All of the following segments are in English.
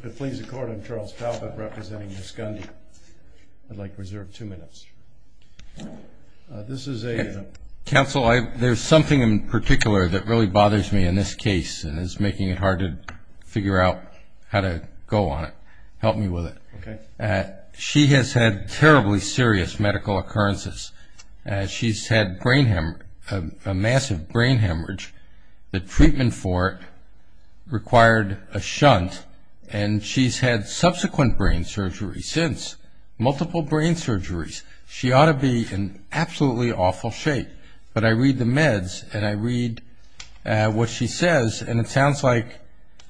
There is something in particular that really bothers me in this case and is making it hard to figure out how to go on it. Help me with it. She has had terribly serious medical occurrences. She's had a massive brain hemorrhage. The treatment for it required a shunt and she's had subsequent brain surgery since. Multiple brain surgeries. She ought to be in absolutely awful shape. But I read the meds and I read what she says and it sounds like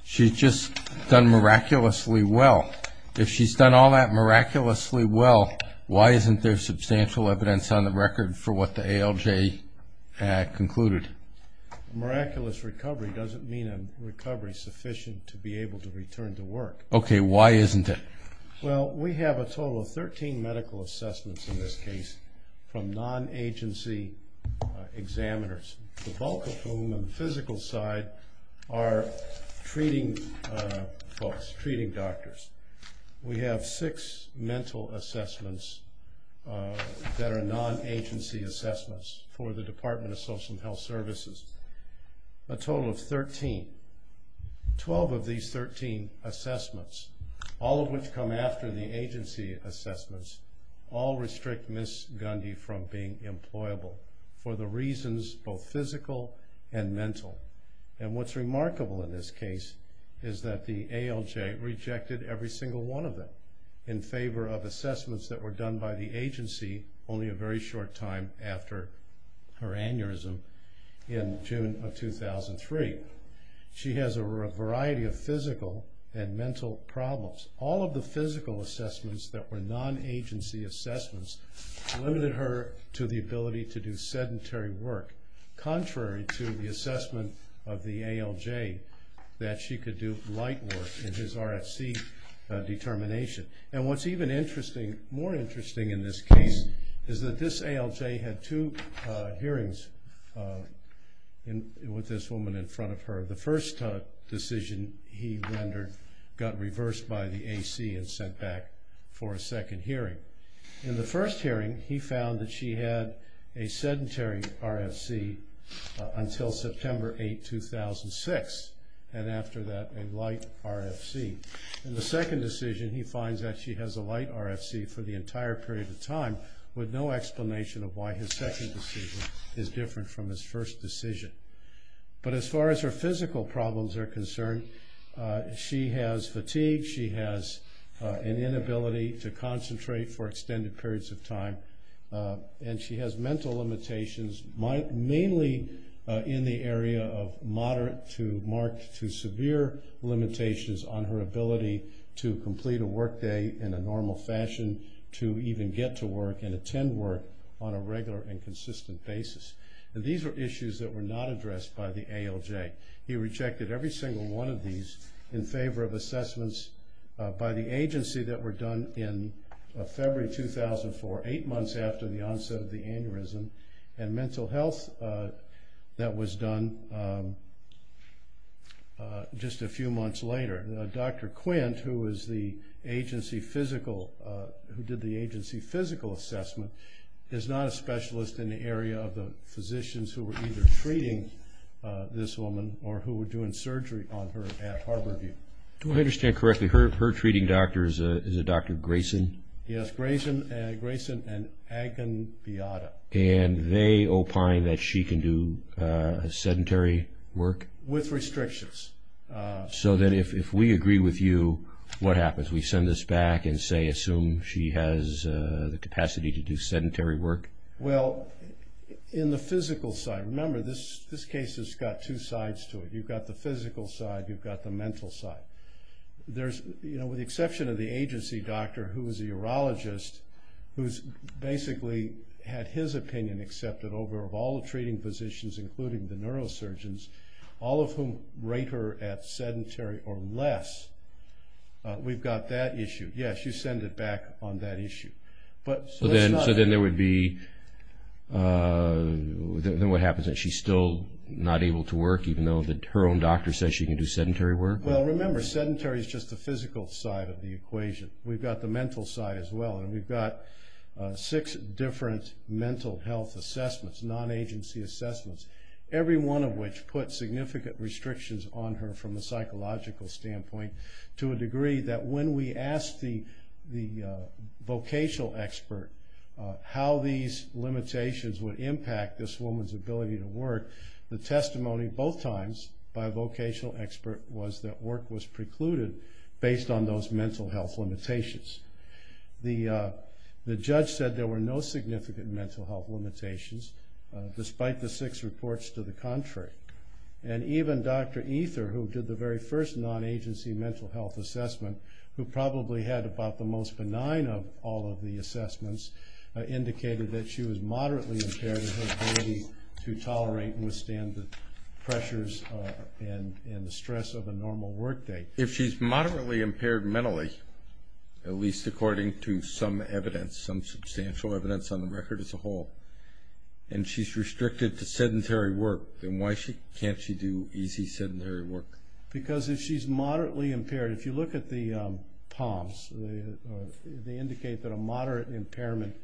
she's just done miraculously well. If she's done all that miraculously well, why isn't there substantial evidence on the record for what the ALJ concluded? Miraculous recovery doesn't mean a recovery sufficient to be able to return to work. Okay, why isn't it? Well, we have a total of 13 medical assessments in this case from non-agency examiners. The bulk of whom on the physical side are treating doctors. We have six mental assessments that are non-agency assessments for the Department of Social and Health Services. A total of 13. Twelve of these 13 assessments, all of which come after the agency assessments, all restrict Ms. Gundy from being employable for the reasons both physical and mental. And what's remarkable in this case is that the ALJ rejected every single one of them in favor of assessments that were done by the agency only a very short time after her aneurysm in June of 2003. She has a variety of physical and mental problems. All of the physical assessments that were non-agency assessments limited her to the ability to do sedentary work, contrary to the assessment of the ALJ that she could do light work in his RFC determination. And what's even more interesting in this case is that this ALJ had two hearings with this woman in front of her. The first decision he rendered got reversed by the AC and sent back for a second hearing. In the first hearing he found that she had a sedentary RFC until September 8, 2006, and after that a light RFC. In the second decision he finds that she has a light RFC for the entire period of time with no explanation of why his second decision is different from his first decision. But as far as her physical problems are concerned, she has fatigue, she has an inability to concentrate for extended periods of time, and she has mental limitations, mainly in the area of moderate to marked to severe limitations on her ability to complete a work day in a normal fashion, to even get to work and attend work on a regular and consistent basis. And these were issues that were not addressed by the ALJ. He rejected every single one of these in favor of assessments by the agency that were done in February 2004, eight months after the onset of the aneurysm, and mental health that was done just a few months later. Dr. Quint, who did the agency physical assessment, is not a specialist in the area of the physicians who were either treating this woman or who were doing surgery on her at Harborview. Do I understand correctly, her treating doctor is a Dr. Grayson? Yes, Grayson and Agon-Biotta. And they opine that she can do sedentary work? With restrictions. So then if we agree with you, what happens? We send this back and say, assume she has the capacity to do sedentary work? Well, in the physical side, remember, this case has got two sides to it. You've got the physical side, you've got the mental side. With the exception of the agency doctor, who is a urologist, who's basically had his opinion accepted over all the treating physicians, including the neurosurgeons, all of whom rate her at sedentary or less, we've got that issue. Yes, you send it back on that issue. So then there would be, what happens, she's still not able to work even though her own doctor says she can do sedentary work? Well, remember, sedentary is just the physical side of the equation. We've got the mental side as well. And we've got six different mental health assessments, non-agency assessments, every one of which put significant restrictions on her from a psychological standpoint to a degree that when we asked the vocational expert how these limitations would impact this woman's ability to work, the testimony both times by a vocational expert was that work was precluded based on those mental health limitations. The judge said there were no significant mental health limitations, despite the six reports to the contrary. And even Dr. Ether, who did the very first non-agency mental health assessment, who probably had about the most benign of all of the assessments, indicated that she was moderately impaired in her ability to tolerate and withstand the pressures and the stress of a normal work day. If she's moderately impaired mentally, at least according to some evidence, some substantial evidence on the record as a whole, and she's restricted to sedentary work, then why can't she do easy sedentary work? Because if she's moderately impaired, if you look at the POMs, they indicate that a moderate impairment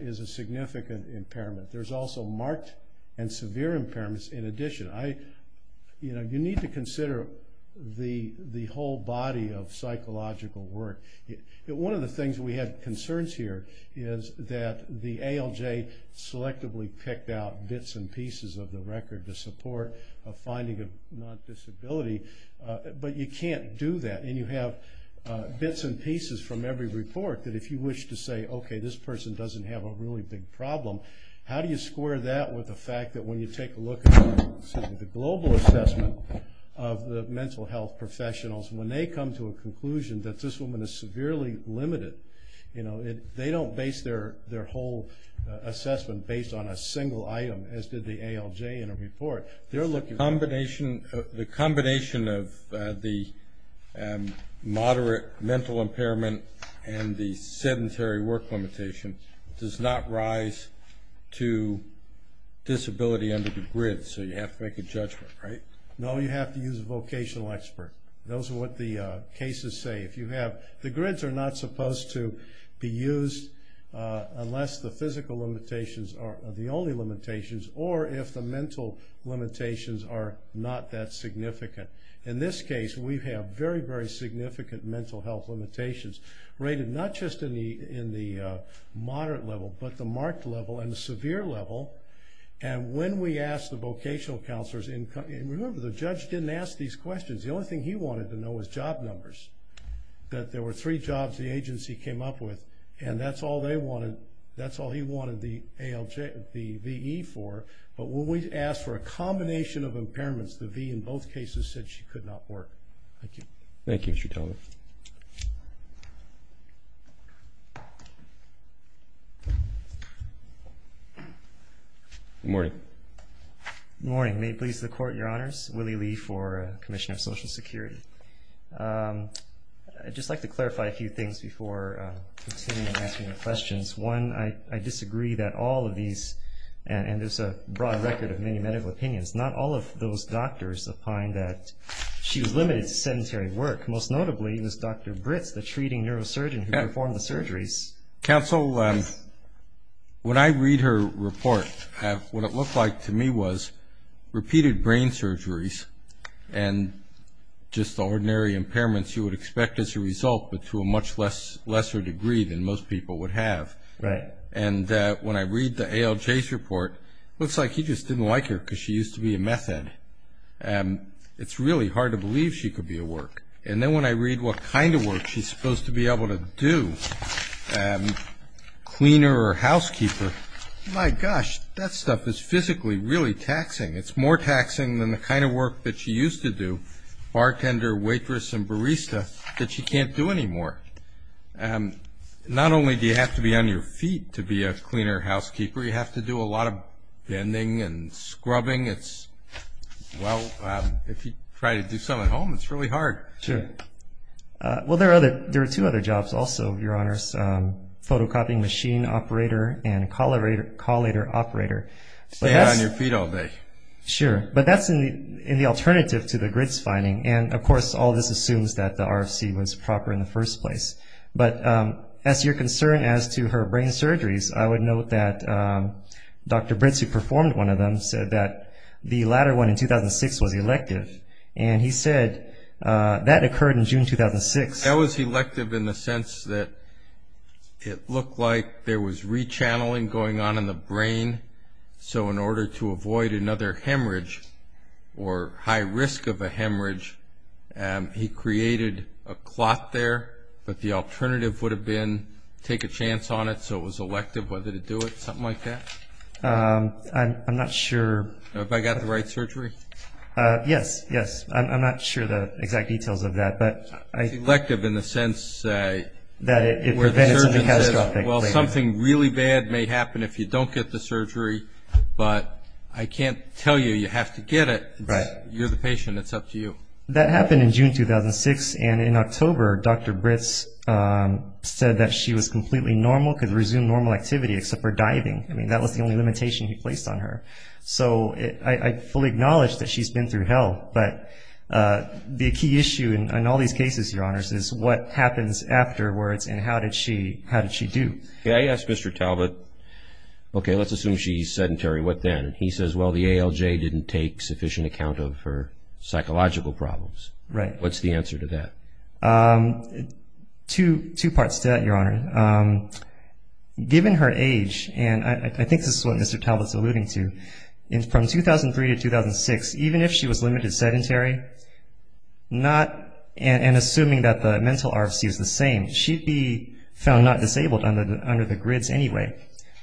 is a significant impairment. There's also marked and severe impairments in addition. You need to consider the whole body of psychological work. One of the things we had concerns here is that the ALJ selectively picked out bits and pieces of the record to support a finding of non-disability. But you can't do that, and you have bits and pieces from every report that if you wish to say, okay, this person doesn't have a really big problem, how do you square that with the fact that when you take a look at the global assessment of the mental health professionals, when they come to a conclusion that this woman is severely limited, they don't base their whole assessment based on a single item, as did the ALJ in a report. The combination of the moderate mental impairment and the sedentary work limitation does not rise to disability under the grid, so you have to make a judgment, right? No, you have to use a vocational expert. Those are what the cases say. The grids are not supposed to be used unless the physical limitations are the only limitations, or if the mental limitations are not that significant. In this case, we have very, very significant mental health limitations rated not just in the moderate level, but the marked level and the severe level. When we asked the vocational counselors, and remember, the judge didn't ask these questions. The only thing he wanted to know was job numbers, that there were three jobs the agency came up with, and that's all he wanted the VE for. But when we asked for a combination of impairments, the V in both cases said she could not work. Thank you. Thank you, Mr. Teller. Good morning. Good morning. May it please the Court, Your Honors. Willie Lee for the Commission of Social Security. I'd just like to clarify a few things before continuing to answer your questions. One, I disagree that all of these, and there's a broad record of many medical opinions, not all of those doctors opine that she was limited to sedentary work. Most notably was Dr. Britz, the treating neurosurgeon who performed the surgeries. Counsel, when I read her report, what it looked like to me was repeated brain surgeries and just the ordinary impairments you would expect as a result, but to a much lesser degree than most people would have. Right. And when I read the ALJ's report, it looks like he just didn't like her because she used to be a meth head. It's really hard to believe she could be a work. And then when I read what kind of work she's supposed to be able to do, cleaner or housekeeper, my gosh, that stuff is physically really taxing. It's more taxing than the kind of work that she used to do, bartender, waitress, and barista, that she can't do anymore. Not only do you have to be on your feet to be a cleaner or housekeeper, you have to do a lot of bending and scrubbing. Well, if you try to do some at home, it's really hard. Sure. Well, there are two other jobs also, Your Honors, photocopying machine operator and collator operator. Stay on your feet all day. Sure. But that's in the alternative to the GRITS finding. And, of course, all this assumes that the RFC was proper in the first place. But as to your concern as to her brain surgeries, I would note that Dr. Britz, who performed one of them, said that the latter one in 2006 was elective. And he said that occurred in June 2006. That was elective in the sense that it looked like there was re-channeling going on in the brain, so in order to avoid another hemorrhage or high risk of a hemorrhage, he created a clot there. But the alternative would have been take a chance on it, so it was elective whether to do it, something like that? I'm not sure. Have I got the right surgery? Yes, yes. I'm not sure the exact details of that. It's elective in the sense where the surgeon says, well, something really bad may happen if you don't get the surgery, but I can't tell you you have to get it. You're the patient. It's up to you. That happened in June 2006. And in October, Dr. Britz said that she was completely normal, could resume normal activity except for diving. I mean, that was the only limitation he placed on her. So I fully acknowledge that she's been through hell. But the key issue in all these cases, Your Honors, is what happens afterwards and how did she do? I asked Mr. Talbot, okay, let's assume she's sedentary. What then? He says, well, the ALJ didn't take sufficient account of her psychological problems. Right. What's the answer to that? Two parts to that, Your Honor. Given her age, and I think this is what Mr. Talbot's alluding to, from 2003 to 2006, even if she was limited sedentary, and assuming that the mental RFC is the same, she'd be found not disabled under the GRIDS anyway.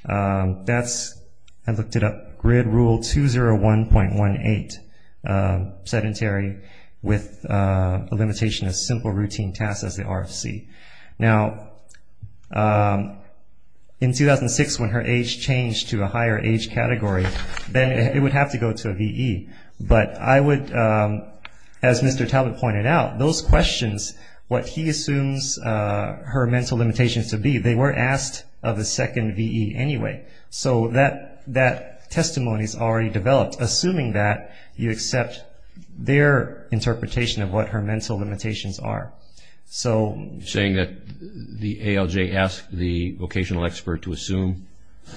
That's, I looked it up, GRID Rule 201.18, sedentary with a limitation of simple routine tasks as the RFC. Now, in 2006, when her age changed to a higher age category, then it would have to go to a VE. But I would, as Mr. Talbot pointed out, those questions, what he assumes her mental limitations to be, they were asked of a second VE anyway. So that testimony is already developed, assuming that you accept their interpretation of what her mental limitations are. You're saying that the ALJ asked the vocational expert to assume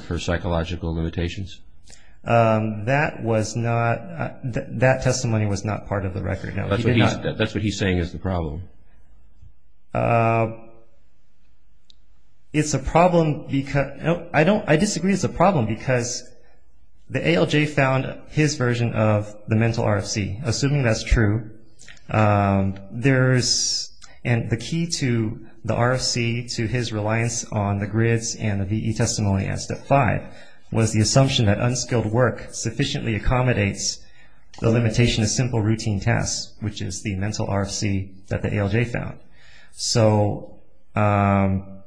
her psychological limitations? That was not, that testimony was not part of the record, no. That's what he's saying is the problem. It's a problem, I disagree it's a problem because the ALJ found his version of the mental RFC, assuming that's true. There's, and the key to the RFC, to his reliance on the GRIDS and the VE testimony at Step 5, was the assumption that unskilled work sufficiently accommodates the limitation of simple routine tasks, which is the mental RFC that the ALJ found. So, and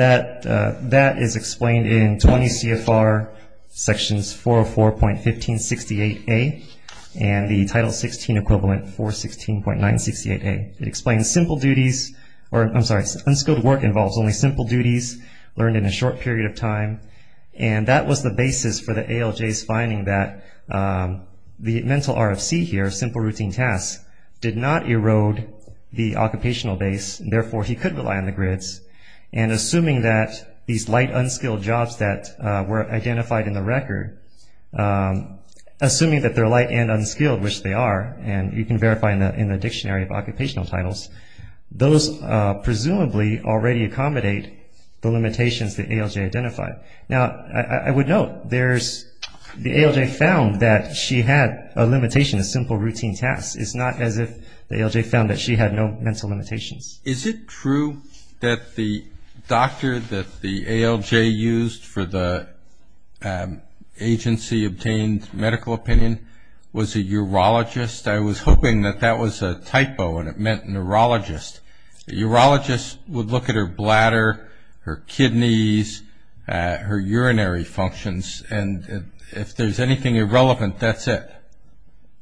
that is explained in 20 CFR sections 404.1568A and the Title 16 equivalent 416.968A. It explains simple duties, or I'm sorry, unskilled work involves only simple duties learned in a short period of time, and that was the basis for the ALJ's finding that the mental RFC here, simple routine tasks, did not erode the occupational base, and therefore he could rely on the GRIDS, and assuming that these light unskilled jobs that were identified in the record, assuming that they're light and unskilled, which they are, and you can verify that in the dictionary of occupational titles, those presumably already accommodate the limitations that ALJ identified. Now, I would note, there's, the ALJ found that she had a limitation of simple routine tasks. It's not as if the ALJ found that she had no mental limitations. Is it true that the doctor that the ALJ used for the agency-obtained medical opinion was a urologist? I was hoping that that was a typo and it meant neurologist. A urologist would look at her bladder, her kidneys, her urinary functions, and if there's anything irrelevant, that's it.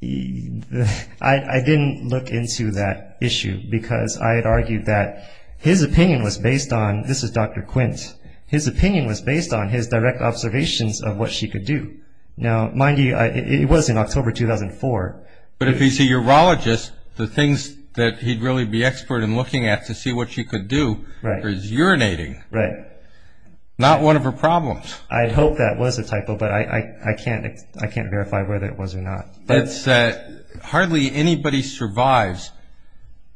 I didn't look into that issue because I had argued that his opinion was based on, this is Dr. Quint, his opinion was based on his direct observations of what she could do. Now, mind you, it was in October 2004. But if he's a urologist, the things that he'd really be expert in looking at to see what she could do is urinating. Right. Not one of her problems. I'd hope that was a typo, but I can't verify whether it was or not. But hardly anybody survives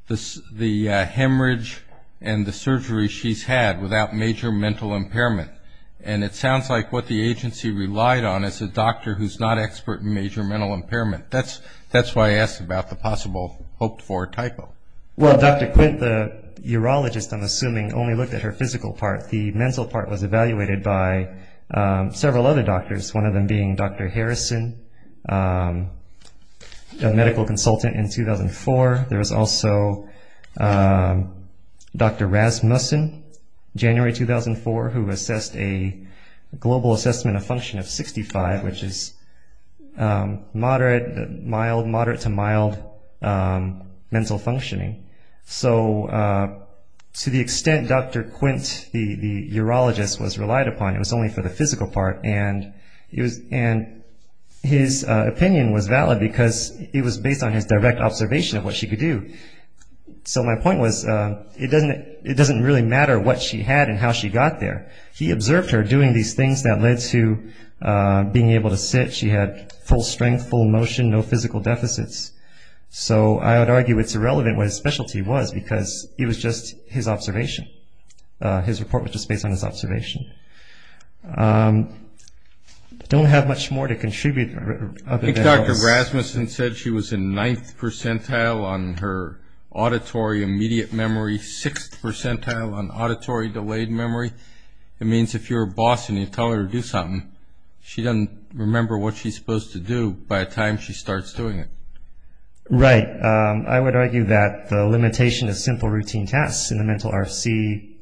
the hemorrhage and the surgery she's had without major mental impairment. And it sounds like what the agency relied on is a doctor who's not expert in major mental impairment. That's why I asked about the possible hoped-for typo. Well, Dr. Quint, the urologist, I'm assuming, only looked at her physical part. The mental part was evaluated by several other doctors, one of them being Dr. Harrison, a medical consultant in 2004. There was also Dr. Rasmussen, January 2004, who assessed a global assessment of function of 65, which is moderate to mild mental functioning. So to the extent Dr. Quint, the urologist, was relied upon, it was only for the physical part, and his opinion was valid because it was based on his direct observation of what she could do. So my point was it doesn't really matter what she had and how she got there. He observed her doing these things that led to being able to sit. She had full strength, full motion, no physical deficits. So I would argue it's irrelevant what his specialty was because it was just his observation. His report was just based on his observation. I don't have much more to contribute. I think Dr. Rasmussen said she was in ninth percentile on her auditory immediate memory, sixth percentile on auditory delayed memory. It means if you're a boss and you tell her to do something, she doesn't remember what she's supposed to do by the time she starts doing it. Right. I would argue that the limitation of simple routine tasks in the mental RFC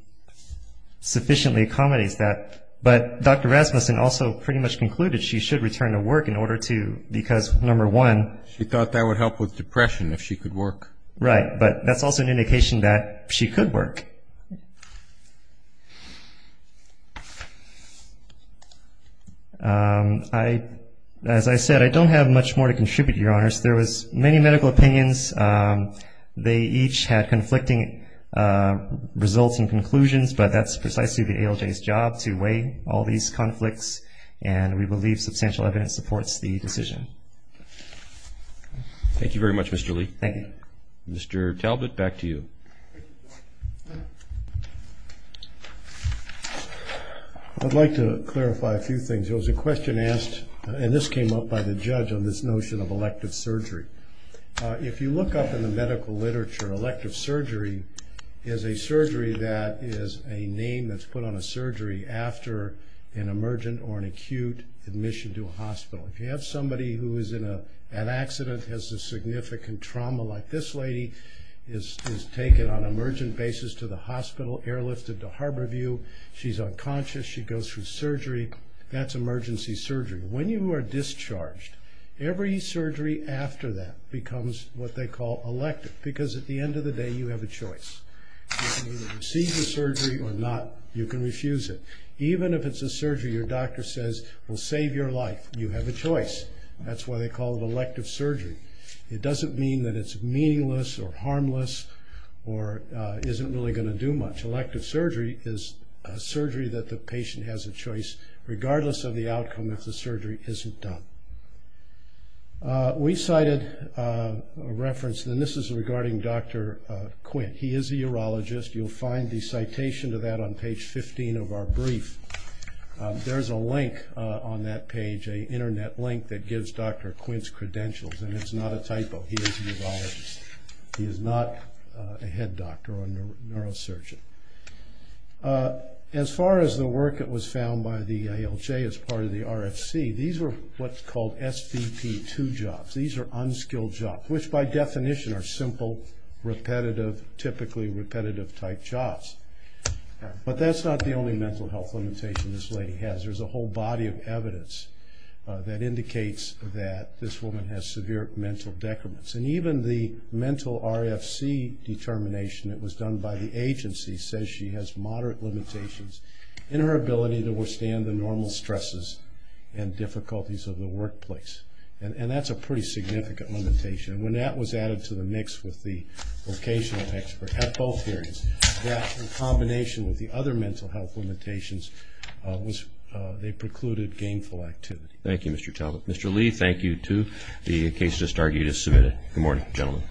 sufficiently accommodates that. But Dr. Rasmussen also pretty much concluded she should return to work in order to, because, number one, She thought that would help with depression if she could work. Right. But that's also an indication that she could work. As I said, I don't have much more to contribute, Your Honors. There was many medical opinions. They each had conflicting results and conclusions, but that's precisely the ALJ's job to weigh all these conflicts, and we believe substantial evidence supports the decision. Thank you very much, Mr. Lee. Thank you. Mr. Talbot, back to you. I'd like to clarify a few things. There was a question asked, and this came up by the judge, on this notion of elective surgery. If you look up in the medical literature, elective surgery is a surgery that is a name that's put on a surgery after an emergent or an acute admission to a hospital. If you have somebody who is in an accident, has a significant trauma like this lady, is taken on an emergent basis to the hospital, airlifted to Harborview, she's unconscious, she goes through surgery, that's emergency surgery. When you are discharged, every surgery after that becomes what they call elective, because at the end of the day, you have a choice. You can either receive the surgery or not. You can refuse it. Even if it's a surgery your doctor says will save your life, you have a choice. That's why they call it elective surgery. It doesn't mean that it's meaningless or harmless or isn't really going to do much. Elective surgery is a surgery that the patient has a choice, regardless of the outcome, if the surgery isn't done. We cited a reference, and this is regarding Dr. Quinn. He is a urologist. You'll find the citation to that on page 15 of our brief. There's a link on that page, an Internet link that gives Dr. Quinn's credentials, and it's not a typo. He is a urologist. He is not a head doctor or a neurosurgeon. As far as the work that was found by the ALJ as part of the RFC, these were what's called SVP-2 jobs. These are unskilled jobs, which by definition are simple, repetitive, typically repetitive-type jobs. But that's not the only mental health limitation this lady has. There's a whole body of evidence that indicates that this woman has severe mental decrements. And even the mental RFC determination that was done by the agency says she has moderate limitations in her ability to withstand the normal stresses and difficulties of the workplace. And that's a pretty significant limitation. And when that was added to the mix with the vocational expert at both areas, that in combination with the other mental health limitations, they precluded gainful activity. Thank you, Mr. Talbot. Mr. Lee, thank you too. The case just argued is submitted. Good morning, gentlemen.